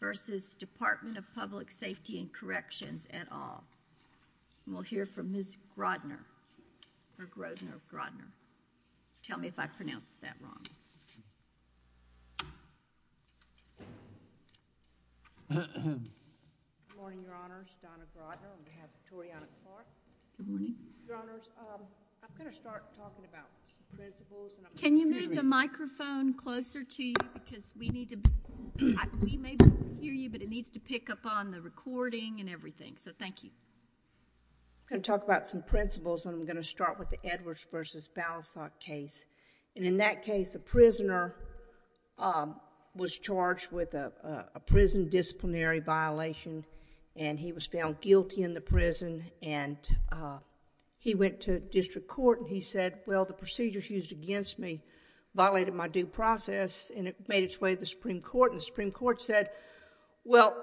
v. Dept of Public Safety and Corrections at all. We'll hear from Ms. Grodner. Tell me if I pronounced that wrong. Good morning, Your Honors. Donna Grodner on behalf of Toriana Clark. Good morning. Your Honors, I'm going to start talking about principles. Can you move the microphone closer to you? We may not be able to hear you, but it needs to pick up on the recording and everything, so thank you. I'm going to talk about some principles, and I'm going to start with the Edwards v. Balasog case. In that case, a prisoner was charged with a prison disciplinary violation, and he was found guilty in the prison. He went to district court, and he said, well, the procedure she used against me violated my due process, and it made its way to the Supreme Court, and the Supreme Court said, well,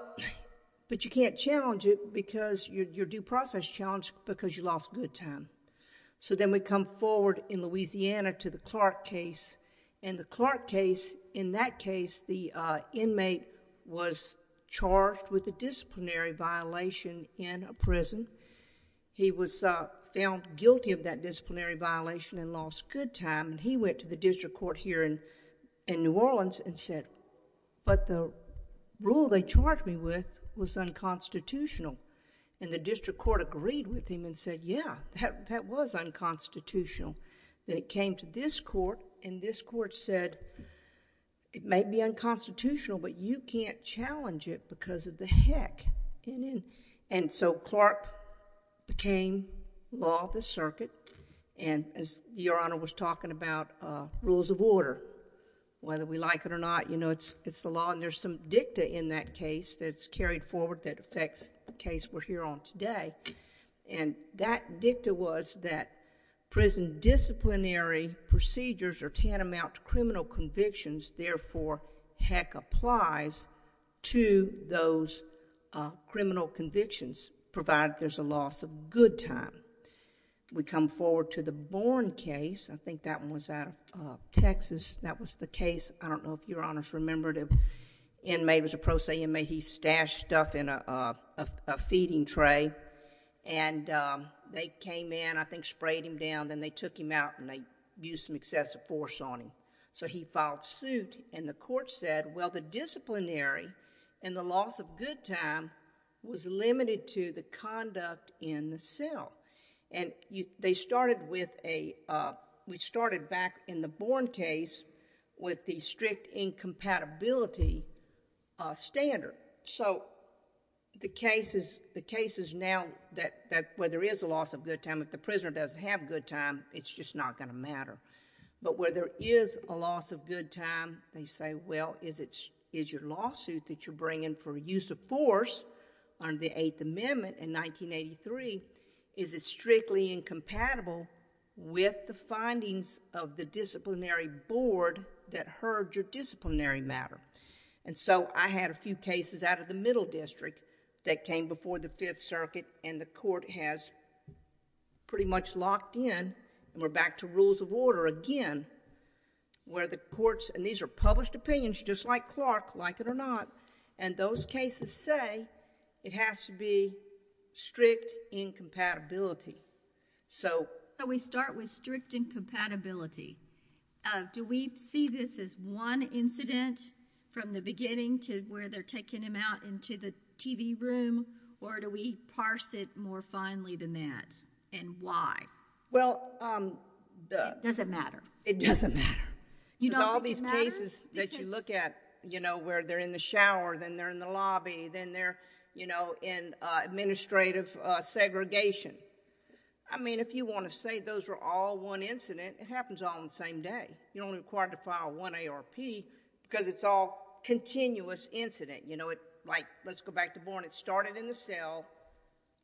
but you can't challenge it because your due process challenged because you lost good time. Then we come forward in Louisiana to the Clark case. In the Clark case, in that case, the inmate was charged with a disciplinary violation in a prison. He was found guilty of that disciplinary violation and lost good time. He went to the district court here in New Orleans and said, but the rule they charged me with was unconstitutional. The district court agreed with him and said, yeah, that was unconstitutional. Then it came to this court, and this court said, it may be unconstitutional, but you can't challenge it because of the heck. And so Clark became law of the circuit, and as Your Honor was talking about rules of order, whether we like it or not, you know, it's the law, and there's some dicta in that case that's carried forward that affects the case we're here on today. And that dicta was that prison disciplinary procedures are tantamount to criminal convictions, therefore heck applies to those criminal convictions, provided there's a loss of good time. We come forward to the Bourne case. I think that one was out of Texas. That was the case, I don't know if Your Honors remember it, the inmate was a pro se inmate. He stashed stuff in a feeding tray, and they came in, I think sprayed him down. Then they took him out, and they used some excessive force on him. So he filed suit, and the court said, well, the disciplinary and the loss of good time was limited to the conduct in the cell. And they started with a, we started back in the Bourne case with the strict incompatibility standard. So the case is now that where there is a loss of good time, if the prisoner doesn't have good time, it's just not going to matter. But where there is a loss of good time, they say, well, is your lawsuit that you're bringing for use of force under the Eighth Amendment in 1983, is it strictly incompatible with the findings of the disciplinary board that heard your disciplinary matter? So I had a few cases out of the Middle District that came before the Fifth Circuit, and the court has pretty much locked in. And we're back to rules of order again, where the courts, and these are published opinions just like Clark, like it or not, and those cases say it has to be strict incompatibility. So... So we start with strict incompatibility. Do we see this as one incident from the beginning to where they're taking him out into the TV room, or do we parse it more finely than that, and why? Well... It doesn't matter. It doesn't matter. You don't think it matters? Because all these cases that you look at, you know, where they're in the shower, then they're in the lobby, then they're, you know, in administrative segregation. I mean, if you want to say those are all one incident, it happens all on the same day. You're only required to file one ARP because it's all continuous incident. You know, like let's go back to Bourne. It started in the cell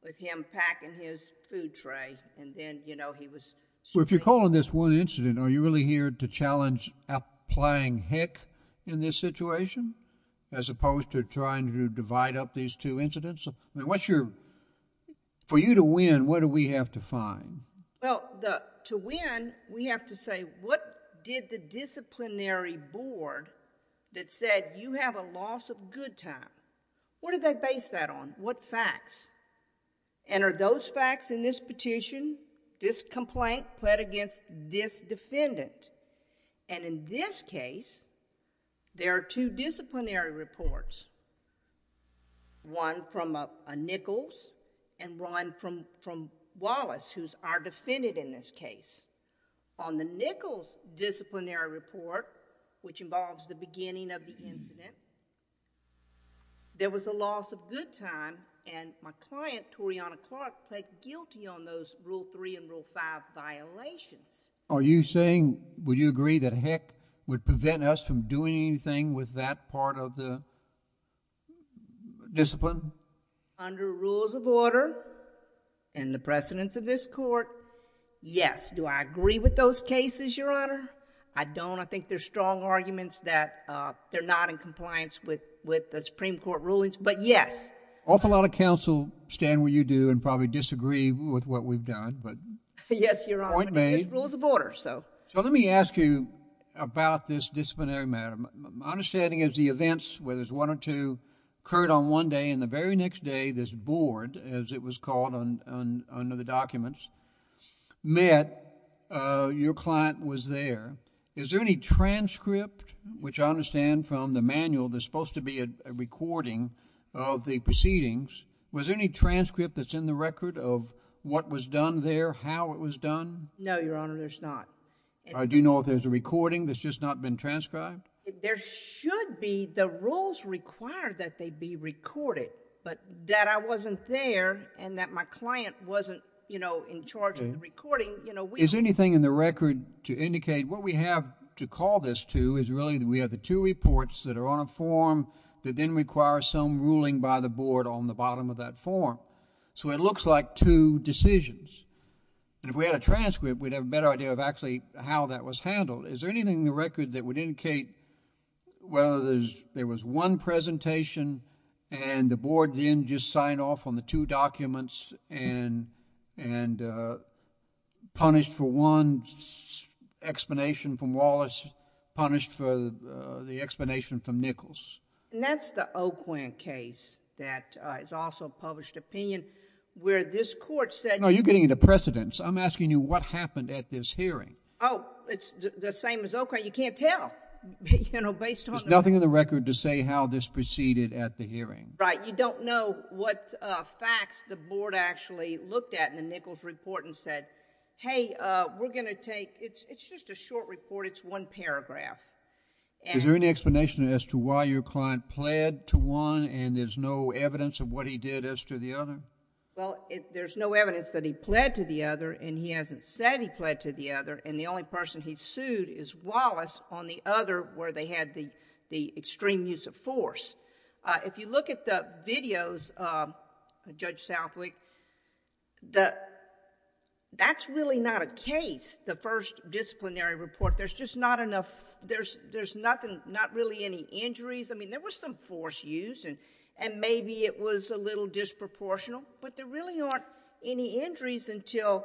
with him packing his food tray, and then, you know, he was... Well, if you're calling this one incident, are you really here to challenge applying HEC in this situation, as opposed to trying to divide up these two incidents? I mean, what's your... For you to win, what do we have to find? Well, to win, we have to say what did the disciplinary board that said, you have a loss of good time, what did they base that on? What facts? And are those facts in this petition, this complaint, pled against this defendant? And in this case, there are two disciplinary reports, one from Nichols and one from Wallace, who's our defendant in this case. On the Nichols disciplinary report, which involves the beginning of the incident, there was a loss of good time, and my client, Toriana Clark, pled guilty on those Rule 3 and Rule 5 violations. Are you saying... Would you agree that HEC would prevent us from doing anything with that part of the discipline? Under rules of order and the precedence of this court, yes. Do I agree with those cases, Your Honor? I don't. I think there's strong arguments that they're not in compliance with the Supreme Court rulings, but yes. An awful lot of counsel stand where you do and probably disagree with what we've done, but point made. Yes, Your Honor. There's rules of order. So let me ask you about this disciplinary matter. My understanding is the events, whether it's one or two, occurred on one day, and the very next day, this board, as it was called under the documents, met. Your client was there. Is there any transcript, which I understand from the manual, there's supposed to be a recording of the proceedings. Was there any transcript that's in the record of what was done there, how it was done? No, Your Honor, there's not. Do you know if there's a recording that's just not been transcribed? There should be. The rules require that they be recorded, but that I wasn't there and that my client wasn't, you know, in charge of the recording. Is there anything in the record to indicate what we have to call this to is really that we have the two reports that are on a form that then require some ruling by the board on the bottom of that form. So it looks like two decisions. And if we had a transcript, we'd have a better idea of actually how that was handled. Is there anything in the record that would indicate whether there was one presentation and the board then just signed off on the two documents and punished for one explanation from Wallace, punished for the explanation from Nichols? And that's the O'Quinn case that is also published opinion where this court said... No, you're getting into precedence. I'm asking you what happened at this hearing. Oh, it's the same as O'Quinn. You can't tell, you know, based on... There's nothing in the record to say how this proceeded at the hearing. Right, you don't know what facts the board actually looked at in the Nichols report and said, hey, we're going to take... It's just a short report, it's one paragraph. Is there any explanation as to why your client pled to one and there's no evidence of what he did as to the other? Well, there's no evidence that he pled to the other and he hasn't said he pled to the other and the only person he sued is Wallace on the other where they had the extreme use of force. If you look at the videos, Judge Southwick, that's really not a case, the first disciplinary report. There's just not enough... There's nothing, not really any injuries. I mean, there was some force used and maybe it was a little disproportional, but there really aren't any injuries until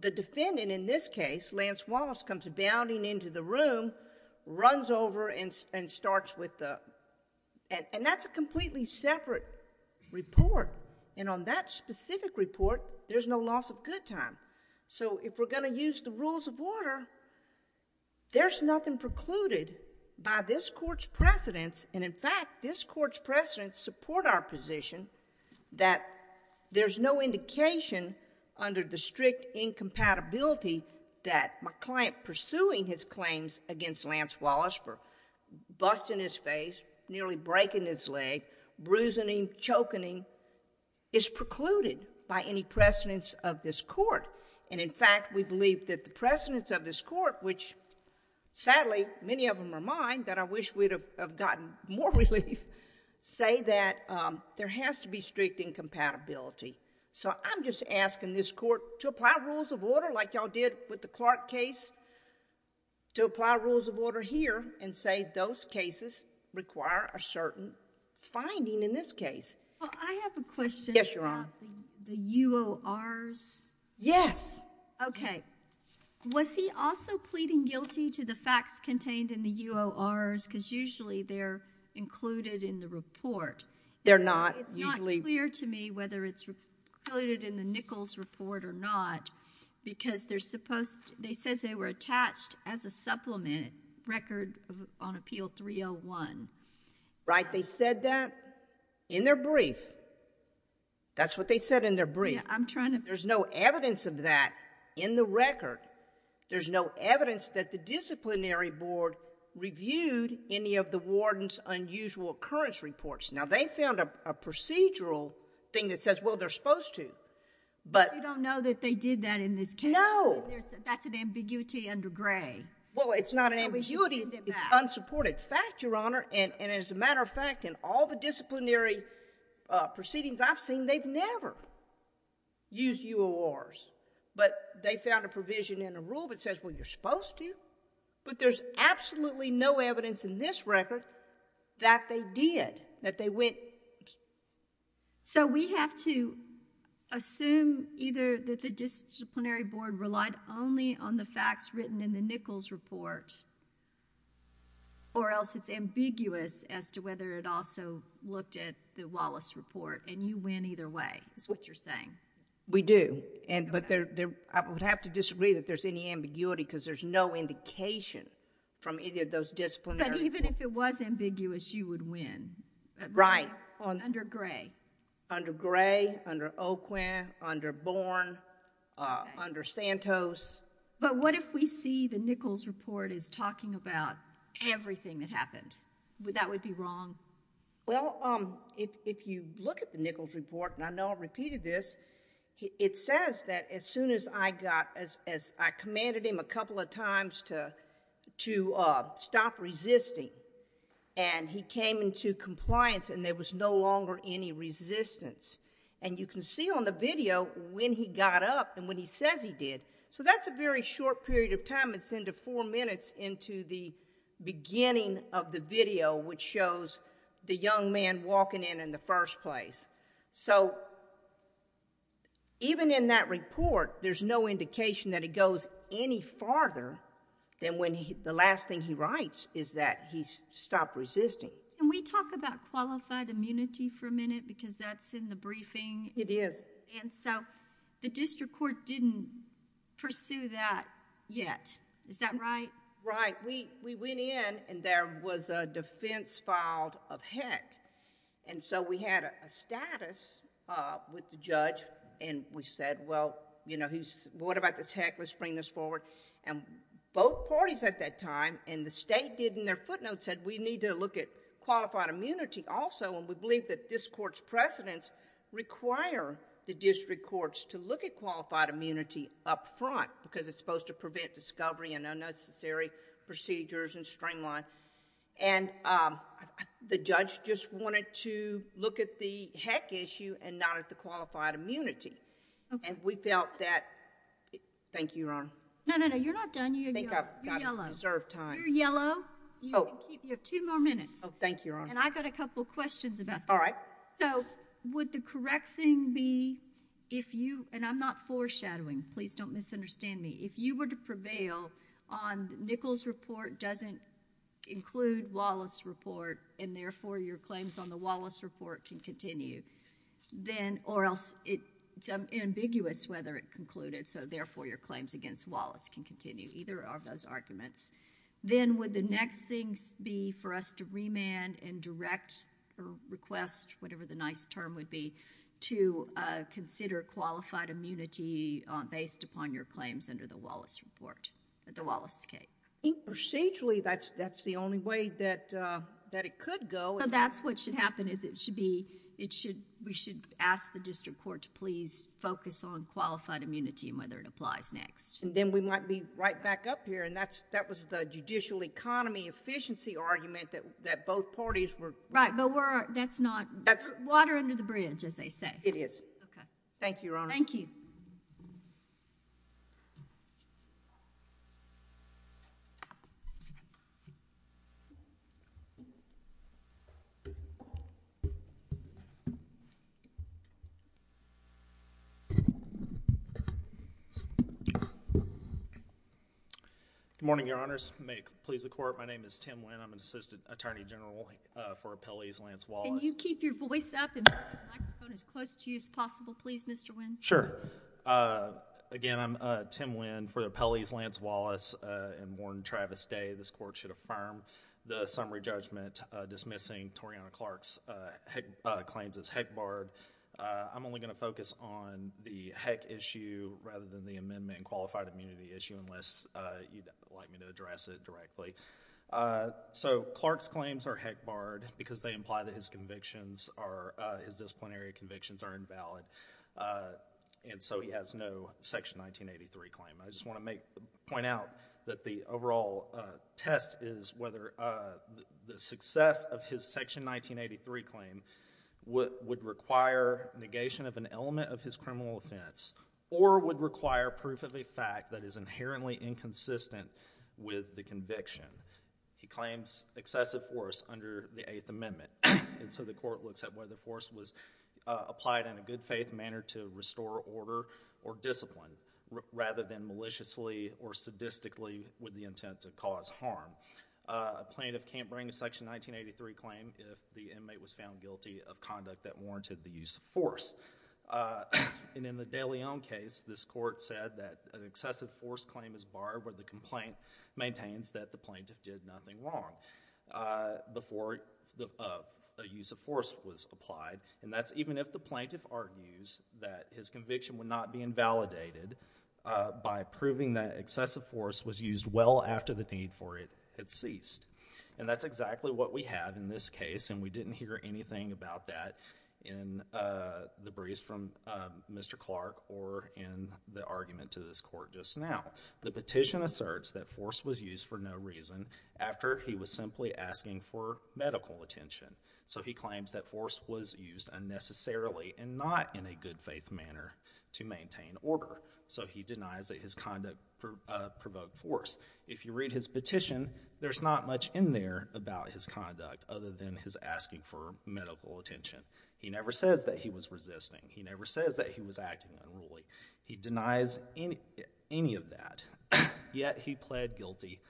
the defendant in this case, Lance Wallace, comes bounding into the room, runs over and starts with the... And that's a completely separate report and on that specific report, there's no loss of good time. So if we're going to use the rules of order, there's nothing precluded by this court's precedents and, in fact, this court's precedents support our position that there's no indication under the strict incompatibility that my client pursuing his claims against Lance Wallace for busting his face, nearly breaking his leg, bruising him, choking him, is precluded by any precedents of this court. And, in fact, we believe that the precedents of this court, which, sadly, many of them are mine, that I wish we'd have gotten more relief, say that there has to be strict incompatibility. So I'm just asking this court to apply rules of order like y'all did with the Clark case, to apply rules of order here and say those cases require a certain finding in this case. Well, I have a question... ...about the UORs. Yes. OK. Was he also pleading guilty to the facts contained in the UORs? Because usually they're included in the report. They're not. It's not clear to me whether it's included in the Nichols report or not because they're supposed... They said they were attached as a supplement record on Appeal 301. Right, they said that in their brief. That's what they said in their brief. Yeah, I'm trying to... There's no evidence of that in the record. There's no evidence that the disciplinary board reviewed any of the warden's unusual occurrence reports. Now, they found a procedural thing that says, well, they're supposed to. But... You don't know that they did that in this case? No. That's an ambiguity under Gray. Well, it's not ambiguity, it's unsupported fact, Your Honor. And as a matter of fact, in all the disciplinary proceedings I've seen, they've never used UORs. But they found a provision in the rule that says, well, you're supposed to. But there's absolutely no evidence in this record that they did, that they went... So we have to assume either that the disciplinary board relied only on the facts written in the Nichols report or else it's ambiguous as to whether it also looked at the Wallace report and you win either way, is what you're saying? We do. But I would have to disagree that there's any ambiguity because there's no indication from either of those disciplinary... Even if it was ambiguous, you would win. Right. Under Gray. Under Gray, under Oquin, under Bourne, under Santos. But what if we see the Nichols report is talking about everything that happened? That would be wrong? Well, if you look at the Nichols report, and I know I've repeated this, it says that as soon as I commanded him a couple of times to stop resisting and he came into compliance and there was no longer any resistance. And you can see on the video when he got up and when he says he did. So that's a very short period of time. It's into four minutes into the beginning of the video which shows the young man walking in in the first place. So even in that report, there's no indication that it goes any farther than when the last thing he writes is that he stopped resisting. Can we talk about qualified immunity for a minute? Because that's in the briefing. It is. And so the district court didn't pursue that yet. Is that right? Right. We went in and there was a defense filed of heck. And so we had a status with the judge and we said, well, what about this heck? Let's bring this forward. And both parties at that time and the state did in their footnotes said we need to look at qualified immunity also and we believe that this court's precedents require the district courts to look at qualified immunity up front because it's supposed to prevent discovery and unnecessary procedures and streamline. And the judge just wanted to look at the heck issue and not at the qualified immunity. And we felt that. Thank you, Your Honor. No, no, no. You're not done. You're yellow. You're yellow. You have two more minutes. Oh, thank you, Your Honor. And I've got a couple questions about that. All right. So would the correct thing be if you, and I'm not foreshadowing. Please don't misunderstand me. If you were to prevail on Nichols' report doesn't include Wallace's report and therefore your claims on the Wallace report can continue, or else it's ambiguous whether it concluded, so therefore your claims against Wallace can continue, either of those arguments. Then would the next thing be for us to remand and direct or request, whatever the nice term would be, to consider qualified immunity based upon your claims under the Wallace report, the Wallace case? I think procedurally that's the only way that it could go. So that's what should happen is it should be, we should ask the district court to please focus on qualified immunity and whether it applies next. And then we might be right back up here, and that was the judicial economy efficiency argument that both parties were. Right, but that's not. Water under the bridge, as they say. It is. Thank you, Your Honor. Thank you. Good morning, Your Honors. May it please the Court. My name is Tim Wynn. I'm an Assistant Attorney General for Appellees, Lance Wallace. Can you keep your voice up and bring the microphone as close to you as possible, please, Mr. Wynn? Sure. Again, I'm Tim Wynn for Appellees, Lance Wallace. And Warren Travis Day, this Court should affirm the summary judgment dismissing Toriana Clark's claims as heck barred. I'm only going to focus on the heck issue rather than the amendment and qualified immunity issue unless you'd like me to address it directly. So Clark's claims are heck barred because they imply that his convictions are, his disciplinary convictions are invalid. And so he has no Section 1983 claim. I just want to point out that the overall test is whether the success of his Section 1983 claim would require negation of an element of his criminal offense or would require proof of a fact that is inherently inconsistent with the conviction. He claims excessive force under the Eighth Amendment. And so the Court looks at whether force was applied in a good faith manner to restore order or discipline rather than maliciously or sadistically with the intent to cause harm. A plaintiff can't bring a Section 1983 claim if the inmate was found guilty of conduct that warranted the use of force. And in the de Leon case, this Court said that an excessive force claim is barred where the complaint maintains that the plaintiff did nothing wrong before the use of force was applied. And that's even if the plaintiff argues that his conviction would not be invalidated by proving that excessive force was used well after the need for it had ceased. And that's exactly what we had in this case, and we didn't hear anything about that in the briefs from Mr. Clark or in the argument to this Court just now. The petition asserts that force was used for no reason after he was simply asking for medical attention. So he claims that force was used unnecessarily and not in a good faith manner to maintain order. So he denies that his conduct provoked force. If you read his petition, there's not much in there about his conduct other than his asking for medical attention. He never says that he was resisting. He never says that he was acting unruly. He denies any of that. Yet he pled guilty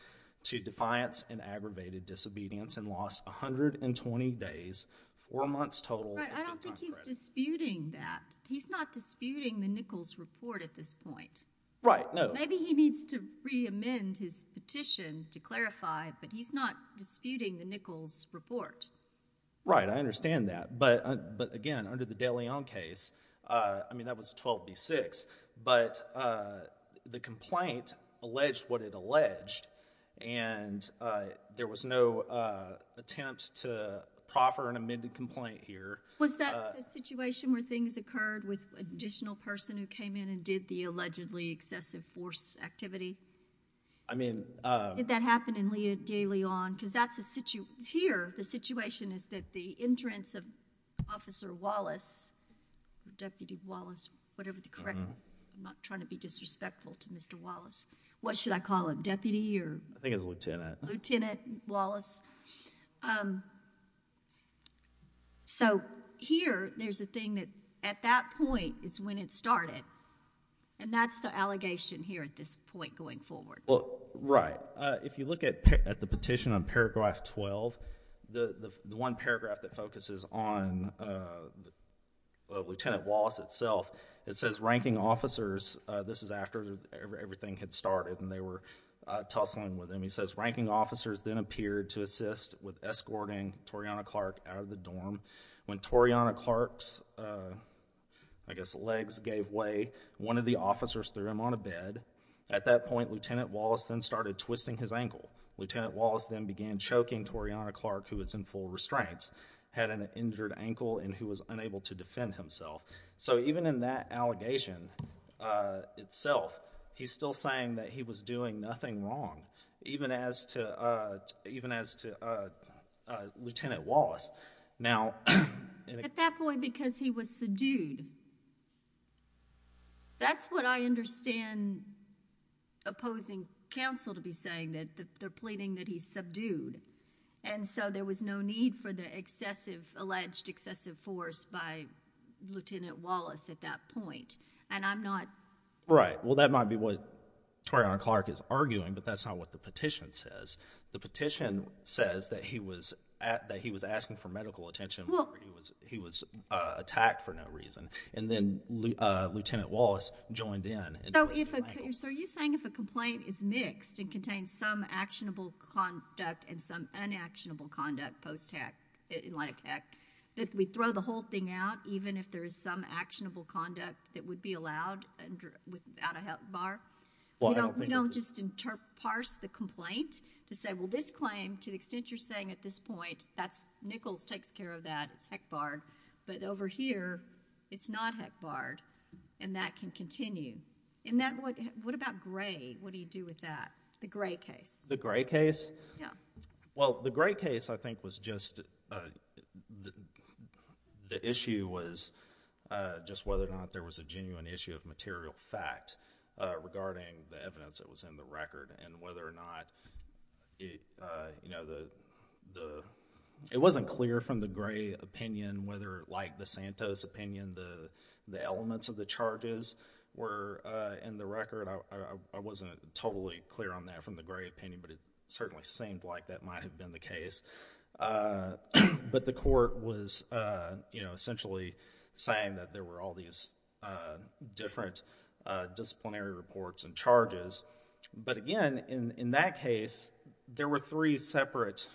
to defiance and aggravated disobedience and lost 120 days, four months total. I don't think he's disputing that. He's not disputing the Nichols report at this point. Right, no. Maybe he needs to reamend his petition to clarify, but he's not disputing the Nichols report. Right, I understand that. But, again, under the de Leon case, I mean, that was 12D6, but the complaint alleged what it alleged, and there was no attempt to proffer an amended complaint here. Was that a situation where things occurred with an additional person who came in and did the allegedly excessive force activity? I mean. Did that happen in Leo de Leon? Because here the situation is that the entrance of Officer Wallace, Deputy Wallace, whatever the correct name. I'm not trying to be disrespectful to Mr. Wallace. What should I call him, Deputy or? I think it's Lieutenant. Lieutenant Wallace. So here there's a thing that at that point is when it started, and that's the allegation here at this point going forward. Right. If you look at the petition on paragraph 12, the one paragraph that focuses on Lieutenant Wallace itself, it says ranking officers, this is after everything had started and they were tussling with him, he says, ranking officers then appeared to assist with escorting Toriana Clark out of the dorm. When Toriana Clark's, I guess, legs gave way, one of the officers threw him on a bed. At that point, Lieutenant Wallace then started twisting his ankle. Lieutenant Wallace then began choking Toriana Clark, who was in full restraints, had an injured ankle and who was unable to defend himself. So even in that allegation itself, he's still saying that he was doing nothing wrong, even as to Lieutenant Wallace. At that point, because he was subdued. That's what I understand opposing counsel to be saying, that they're pleading that he's subdued. And so there was no need for the alleged excessive force by Lieutenant Wallace at that point. Right. Well, that might be what Toriana Clark is arguing, but that's not what the petition says. The petition says that he was asking for medical attention where he was attacked for no reason. And then Lieutenant Wallace joined in and twisted his ankle. So are you saying if a complaint is mixed and contains some actionable conduct and some unactionable conduct post-act, that we throw the whole thing out, even if there is some actionable conduct that would be allowed without a health bar? You don't just parse the complaint to say, well, this claim, to the extent you're saying at this point, that's Nichols takes care of that, it's Heckbard. But over here, it's not Heckbard. And that can continue. And what about Gray? What do you do with that? The Gray case. The Gray case? Yeah. Well, the Gray case, I think, was just the issue was just whether or not there was a genuine issue of material fact regarding the evidence that was in the record. And whether or not it wasn't clear from the Gray opinion whether, like the Santos opinion, the elements of the charges were in the record. I wasn't totally clear on that from the Gray opinion. But it certainly seemed like that might have been the case. But the court was essentially saying that there were all these different disciplinary reports and charges. But again, in that case, there were three separate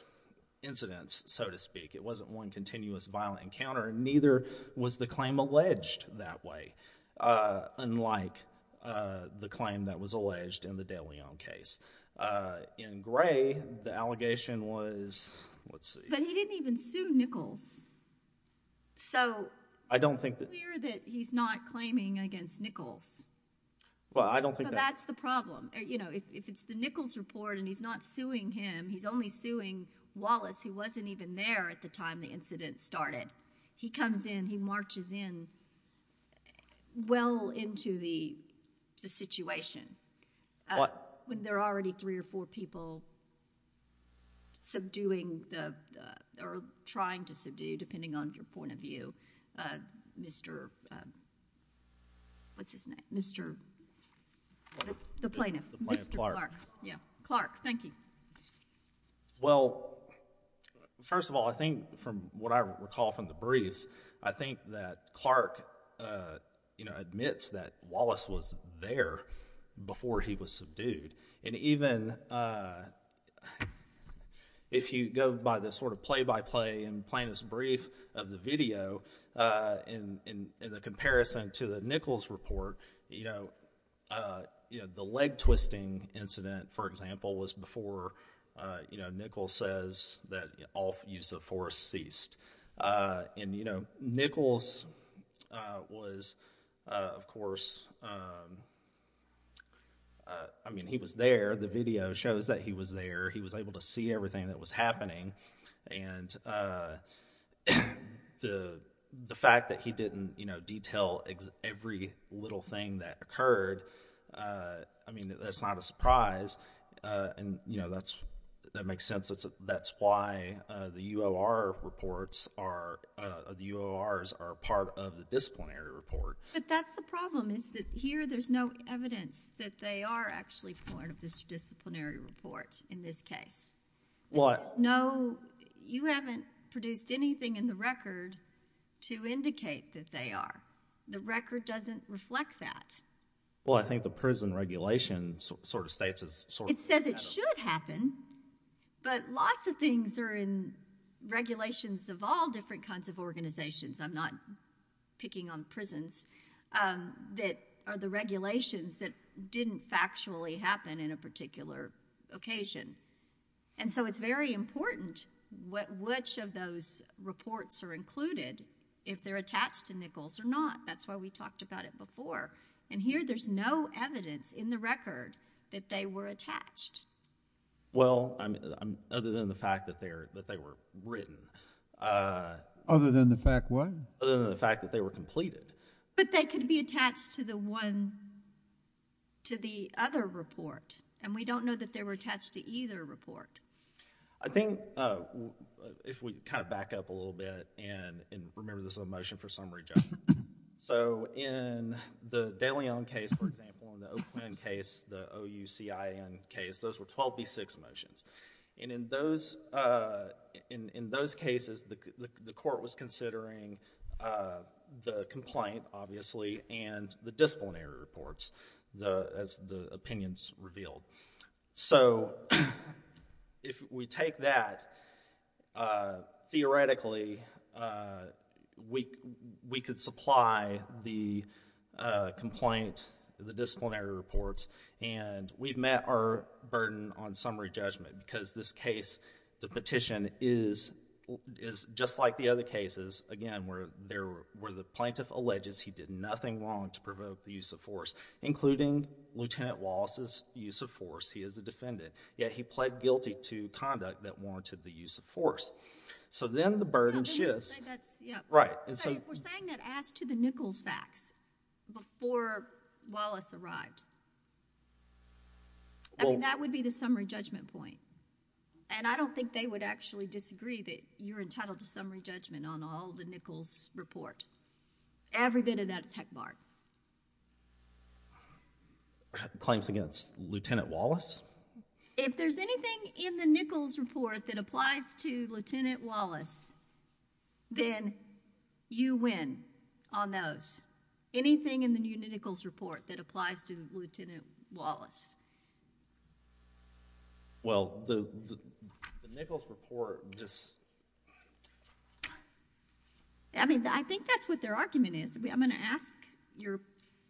incidents, so to speak. It wasn't one continuous violent encounter, and neither was the claim alleged that way, unlike the claim that was alleged in the de Leon case. In Gray, the allegation was, let's see. But he didn't even sue Nichols. So it's clear that he's not claiming against Nichols. Well, I don't think that. So that's the problem. If it's the Nichols report and he's not suing him, he's only suing Wallace, who wasn't even there at the time the incident started. He comes in. He marches in well into the situation when there are already three or four people subduing or trying to subdue, depending on your point of view. Mr. What's his name? Mr. The plaintiff. Mr. Clark. Clark, thank you. Well, first of all, I think from what I recall from the briefs, I think that Clark admits that Wallace was there before he was subdued. And even if you go by the sort of play-by-play and plaintiff's brief of the video, in the comparison to the Nichols report, the leg-twisting incident, for example, was before Nichols says that all use of force ceased. And Nichols was, of course, I mean, he was there. The video shows that he was there. He was able to see everything that was happening. And the fact that he didn't detail every little thing that occurred, I mean, that's not a surprise. And, you know, that makes sense. That's why the UOR reports are part of the disciplinary report. But that's the problem is that here there's no evidence that they are actually part of this disciplinary report in this case. There's no, you haven't produced anything in the record to indicate that they are. The record doesn't reflect that. Well, I think the prison regulation sort of states it. It says it should happen, but lots of things are in regulations of all different kinds of organizations. I'm not picking on prisons. That are the regulations that didn't factually happen in a particular occasion. And so it's very important which of those reports are included if they're attached to Nichols or not. That's why we talked about it before. And here there's no evidence in the record that they were attached. Well, other than the fact that they were written. Other than the fact what? Other than the fact that they were completed. But they could be attached to the one, to the other report. And we don't know that they were attached to either report. I think if we kind of back up a little bit and remember this is a motion for summary judgment. So in the De Leon case, for example, in the Oakland case, the OUCIN case, those were 12B6 motions. And in those cases, the court was considering the complaint, obviously, and the disciplinary reports as the opinions revealed. So if we take that, theoretically, we could supply the complaint, the disciplinary reports, and we've met our burden on summary judgment because this case, the petition, is just like the other cases, again, where the plaintiff alleges he did nothing wrong to provoke the use of force, including Lieutenant Wallace's use of force. He is a defendant. Yet he pled guilty to conduct that warranted the use of force. So then the burden shifts. We're saying that as to the Nichols facts before Wallace arrived. That would be the summary judgment point. And I don't think they would actually disagree that you're entitled to summary judgment on all the Nichols report. Every bit of that is heck barred. Claims against Lieutenant Wallace? If there's anything in the Nichols report that applies to Lieutenant Wallace, then you win on those. Anything in the Nichols report that applies to Lieutenant Wallace? Well, the Nichols report just. I mean, I think that's what their argument is. I'm going to ask your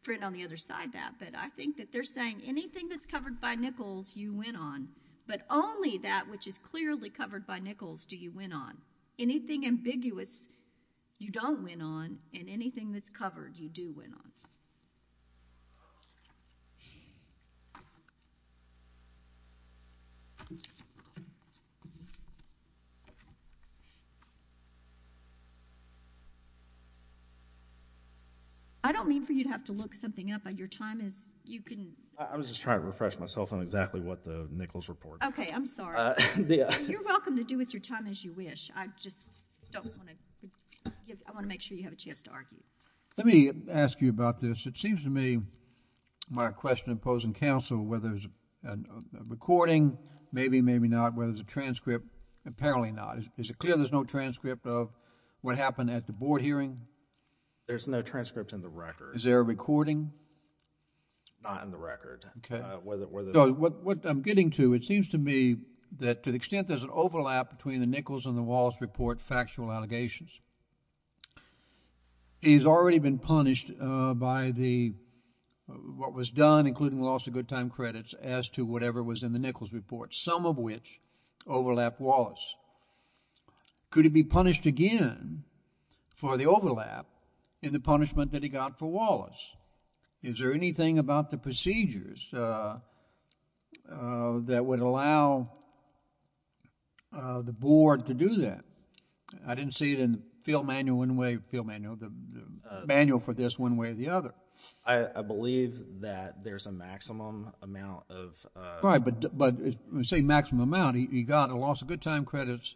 friend on the other side that. But I think that they're saying anything that's covered by Nichols, you win on. But only that which is clearly covered by Nichols do you win on. Anything ambiguous, you don't win on. And anything that's covered, you do win on. I don't mean for you to have to look something up. Your time is, you can. I was just trying to refresh myself on exactly what the Nichols report. OK, I'm sorry. You're welcome to do with your time as you wish. I just don't want to. I want to make sure you have a chance to argue. Let me ask you about this. It seems to me my question imposing counsel whether there's a recording. Maybe, maybe not. Whether there's a transcript. Apparently not. Is it clear there's no transcript of what happened at the board hearing? There's no transcript in the record. Is there a recording? Not in the record. What I'm getting to, it seems to me that to the extent there's an overlap between the Nichols and the Wallace report factual allegations. He's already been punished by what was done, including loss of good time credits, as to whatever was in the Nichols report. Some of which overlapped Wallace. Could he be punished again for the overlap in the punishment that he got for Wallace? Is there anything about the procedures that would allow the board to do that? I didn't see it in the field manual one way, the manual for this one way or the other. I believe that there's a maximum amount of... Right, but when you say maximum amount, he got a loss of good time credits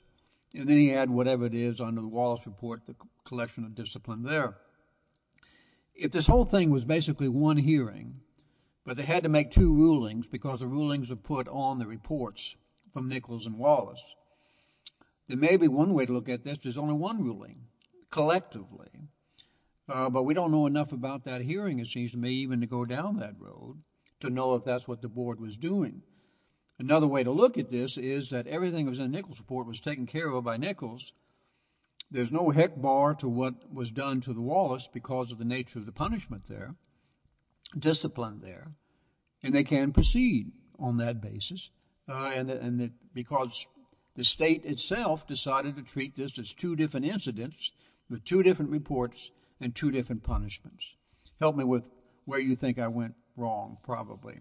and then he had whatever it is under the Wallace report, the collection of discipline there. If this whole thing was basically one hearing, but they had to make two rulings because the rulings are put on the reports from Nichols and Wallace, there may be one way to look at this. There's only one ruling, collectively. But we don't know enough about that hearing, it seems to me, even to go down that road to know if that's what the board was doing. Another way to look at this is that everything that was in the Nichols report was taken care of by Nichols. There's no heck bar to what was done to the Wallace because of the nature of the punishment there, discipline there, and they can proceed on that basis because the state itself decided to treat this as two different incidents with two different reports and two different punishments. Help me with where you think I went wrong, probably.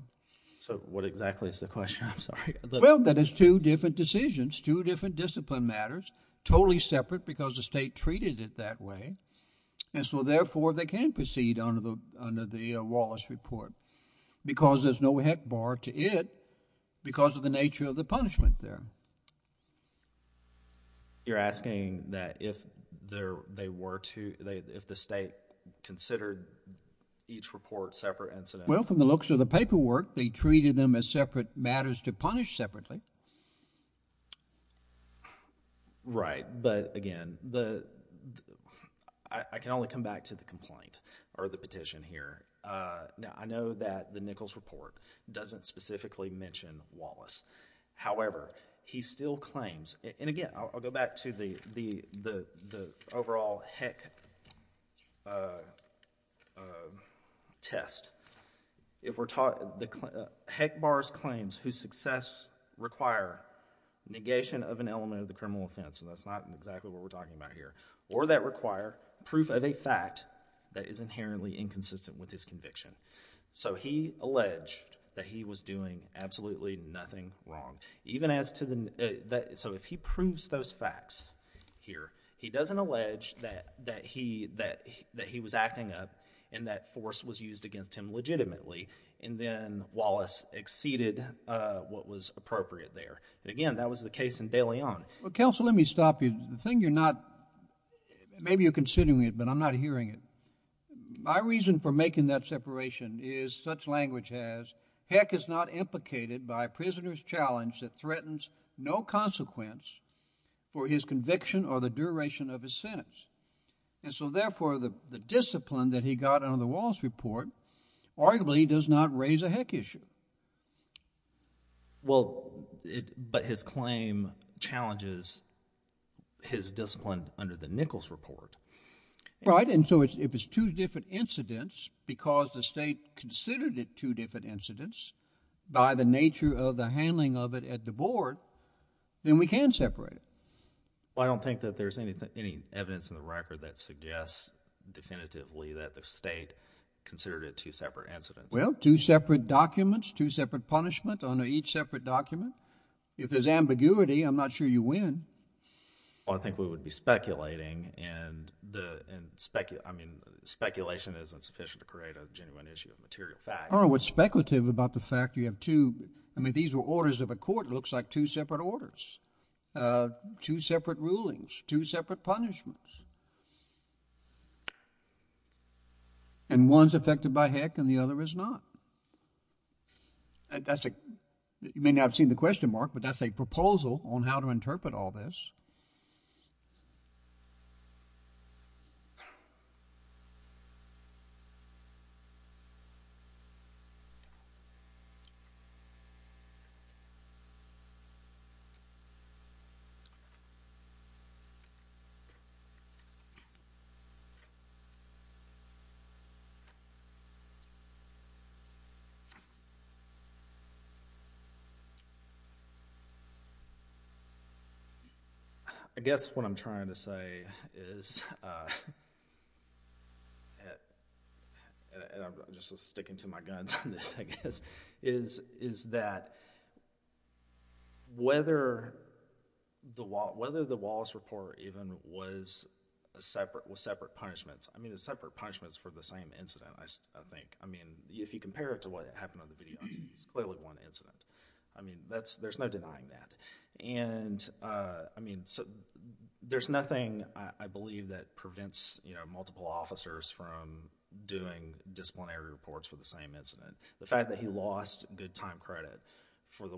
So what exactly is the question? I'm sorry. Well, that is two different decisions, two different discipline matters, totally separate because the state treated it that way, and so therefore they can proceed under the Wallace report because there's no heck bar to it because of the nature of the punishment there. You're asking that if they were to, if the state considered each report separate incidents? Well, from the looks of the paperwork, they treated them as separate matters to punish separately. Right, but again, I can only come back to the complaint or the petition here. Now, I know that the Nichols report doesn't specifically mention Wallace. However, he still claims, and again, I'll go back to the overall heck test. Heck bars claims whose success require negation of an element of the criminal offense, and that's not exactly what we're talking about here, or that require proof of a fact that is inherently inconsistent with his conviction. So he alleged that he was doing absolutely nothing wrong. So if he proves those facts here, he doesn't allege that he was acting up and that force was used against him legitimately, and then Wallace exceeded what was appropriate there. Again, that was the case in De Leon. Counsel, let me stop you. The thing you're not, maybe you're considering it, but I'm not hearing it. My reason for making that separation is, such language has, heck is not implicated by a prisoner's challenge that threatens no consequence for his conviction or the duration of his sentence. And so, therefore, the discipline that he got under the Wallace report arguably does not raise a heck issue. Well, but his claim challenges his discipline under the Nichols report. Right, and so if it's two different incidents because the state considered it two different incidents by the nature of the handling of it at the board, then we can separate it. Well, I don't think that there's any evidence in the record that suggests definitively that the state considered it two separate incidents. Well, two separate documents, two separate punishment under each separate document. If there's ambiguity, I'm not sure you win. Well, I think we would be speculating, and speculation isn't sufficient to create a genuine issue of material fact. What's speculative about the fact you have two, I mean, these were orders of a court. It looks like two separate orders. Two separate rulings, two separate punishments. And one's affected by heck, and the other is not. You may not have seen the question mark, but that's a proposal on how to interpret all this. I guess what I'm trying to say is, and I'm just sticking to my guns on this, I guess, is that whether the Wallace report even was separate punishments, I mean, it's separate punishments for the same incident, I think. I mean, if you compare it to what happened on the video, it's clearly one incident. I mean, there's no denying that. There's nothing, I believe, that prevents multiple officers from doing disciplinary reports for the same incident. The fact that he lost good time credit for the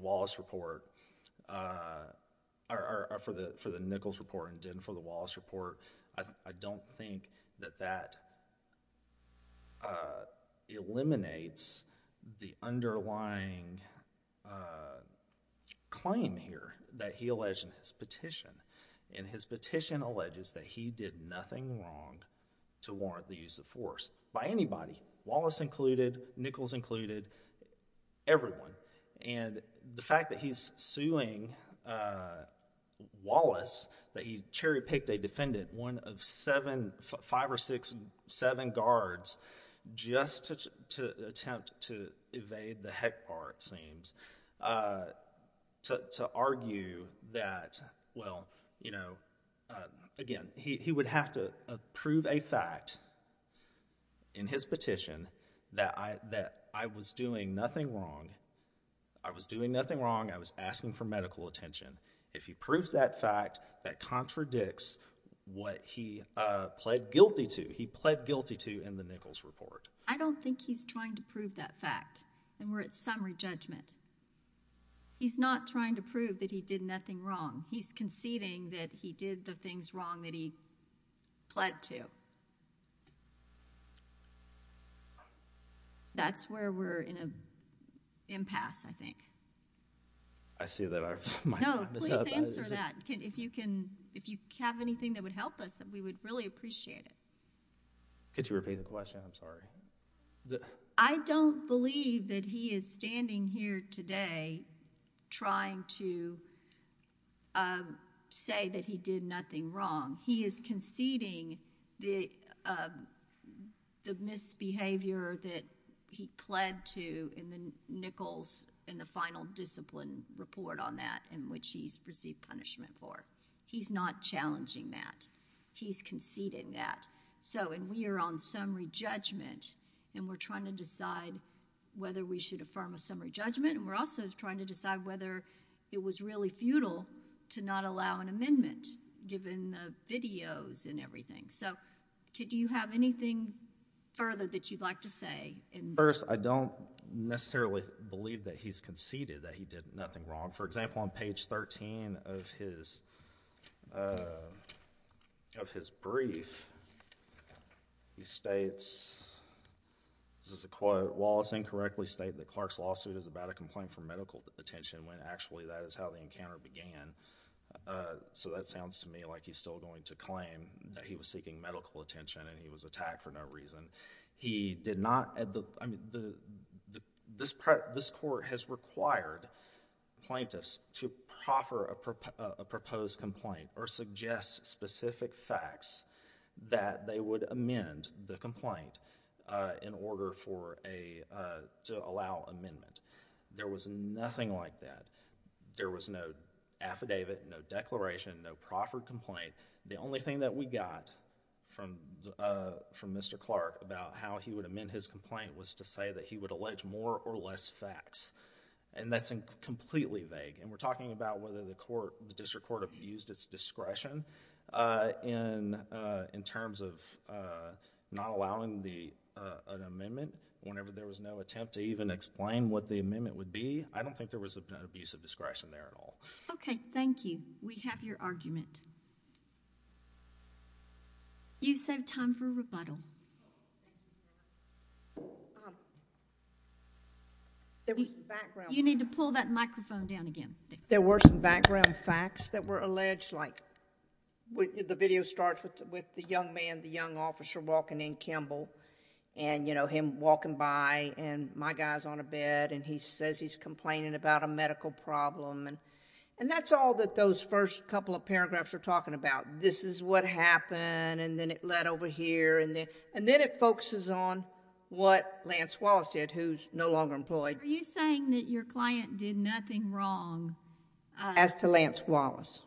Nichols report and didn't for the Wallace report, I don't think that that eliminates the underlying claim here that he alleged in his petition. And his petition alleges that he did nothing wrong to warrant the use of force by anybody, Wallace included, Nichols included, everyone. And the fact that he's suing Wallace, that he cherry-picked a defendant, one of five or six, seven guards, just to attempt to evade the heck bar, it seems, to argue that, well, you know, again, he would have to prove a fact in his petition that I was doing nothing wrong. I was doing nothing wrong. I was asking for medical attention. If he proves that fact, that contradicts what he pled guilty to. He pled guilty to in the Nichols report. I don't think he's trying to prove that fact, and we're at summary judgment. He's not trying to prove that he did nothing wrong. He's conceding that he did the things wrong that he pled to. That's where we're in an impasse, I think. I see that I might have messed up. No, please answer that. If you have anything that would help us, we would really appreciate it. Could you repeat the question? I'm sorry. I don't believe that he is standing here today trying to say that he did nothing wrong. He is conceding the misbehavior that he pled to in the Nichols, in the final discipline report on that, in which he's received punishment for. He's not challenging that. He's conceding that. And we are on summary judgment, and we're trying to decide whether we should affirm a summary judgment, and we're also trying to decide whether it was really futile to not allow an amendment, given the videos and everything. So could you have anything further that you'd like to say? First, I don't necessarily believe that he's conceded that he did nothing wrong. For example, on page 13 of his brief, he states, this is a quote, Mr. Wallace incorrectly stated that Clark's lawsuit is about a complaint for medical attention, when actually that is how the encounter began. So that sounds to me like he's still going to claim that he was seeking medical attention, and he was attacked for no reason. He did not... This court has required plaintiffs to proffer a proposed complaint, or suggest specific facts that they would amend the complaint in order to allow amendment. There was nothing like that. There was no affidavit, no declaration, no proffered complaint. The only thing that we got from Mr. Clark about how he would amend his complaint was to say that he would allege more or less facts. And that's completely vague. And we're talking about whether the district court abused its discretion in terms of not allowing an amendment whenever there was no attempt to even explain what the amendment would be. I don't think there was an abuse of discretion there at all. Okay, thank you. We have your argument. You've saved time for rebuttal. You need to pull that microphone down again. There were some background facts that were alleged, like the video starts with the young man, the young officer, walking in, Kimball, and him walking by, and my guy's on a bed, and he says he's complaining about a medical problem. And that's all that those first couple of paragraphs are talking about. This is what happened, and then it led over here, and then it focuses on what Lance Wallace did, who's no longer employed. Are you saying that your client did nothing wrong... As to Lance Wallace.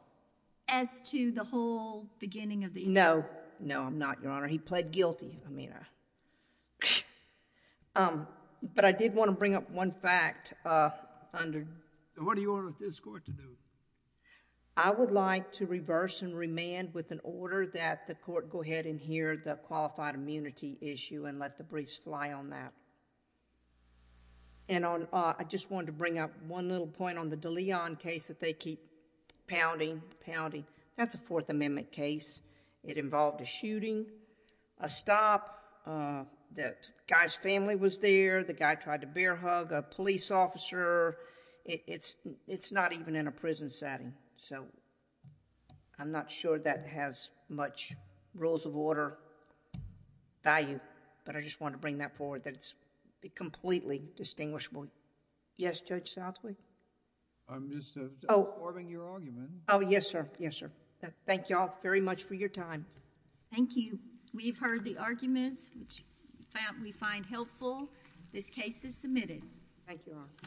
As to the whole beginning of the... No. No, I'm not, Your Honor. He pled guilty. But I did want to bring up one fact under... What do you want this court to do? I would like to reverse and remand with an order that the court go ahead and hear the qualified immunity issue and let the briefs fly on that. I just wanted to bring up one little point on the DeLeon case that they keep pounding, pounding. That's a Fourth Amendment case. It involved a shooting, a stop. The guy's family was there. The guy tried to bear hug a police officer. It's not even in a prison setting. I'm not sure that has much rules of order value, but I just wanted to bring that forward that it's completely distinguishable. Yes, Judge Southley? I'm just affirming your argument. Oh, yes, sir. Yes, sir. Thank you all very much for your time. Thank you. We've heard the arguments which we find helpful. This case is submitted. Thank you, Your Honor.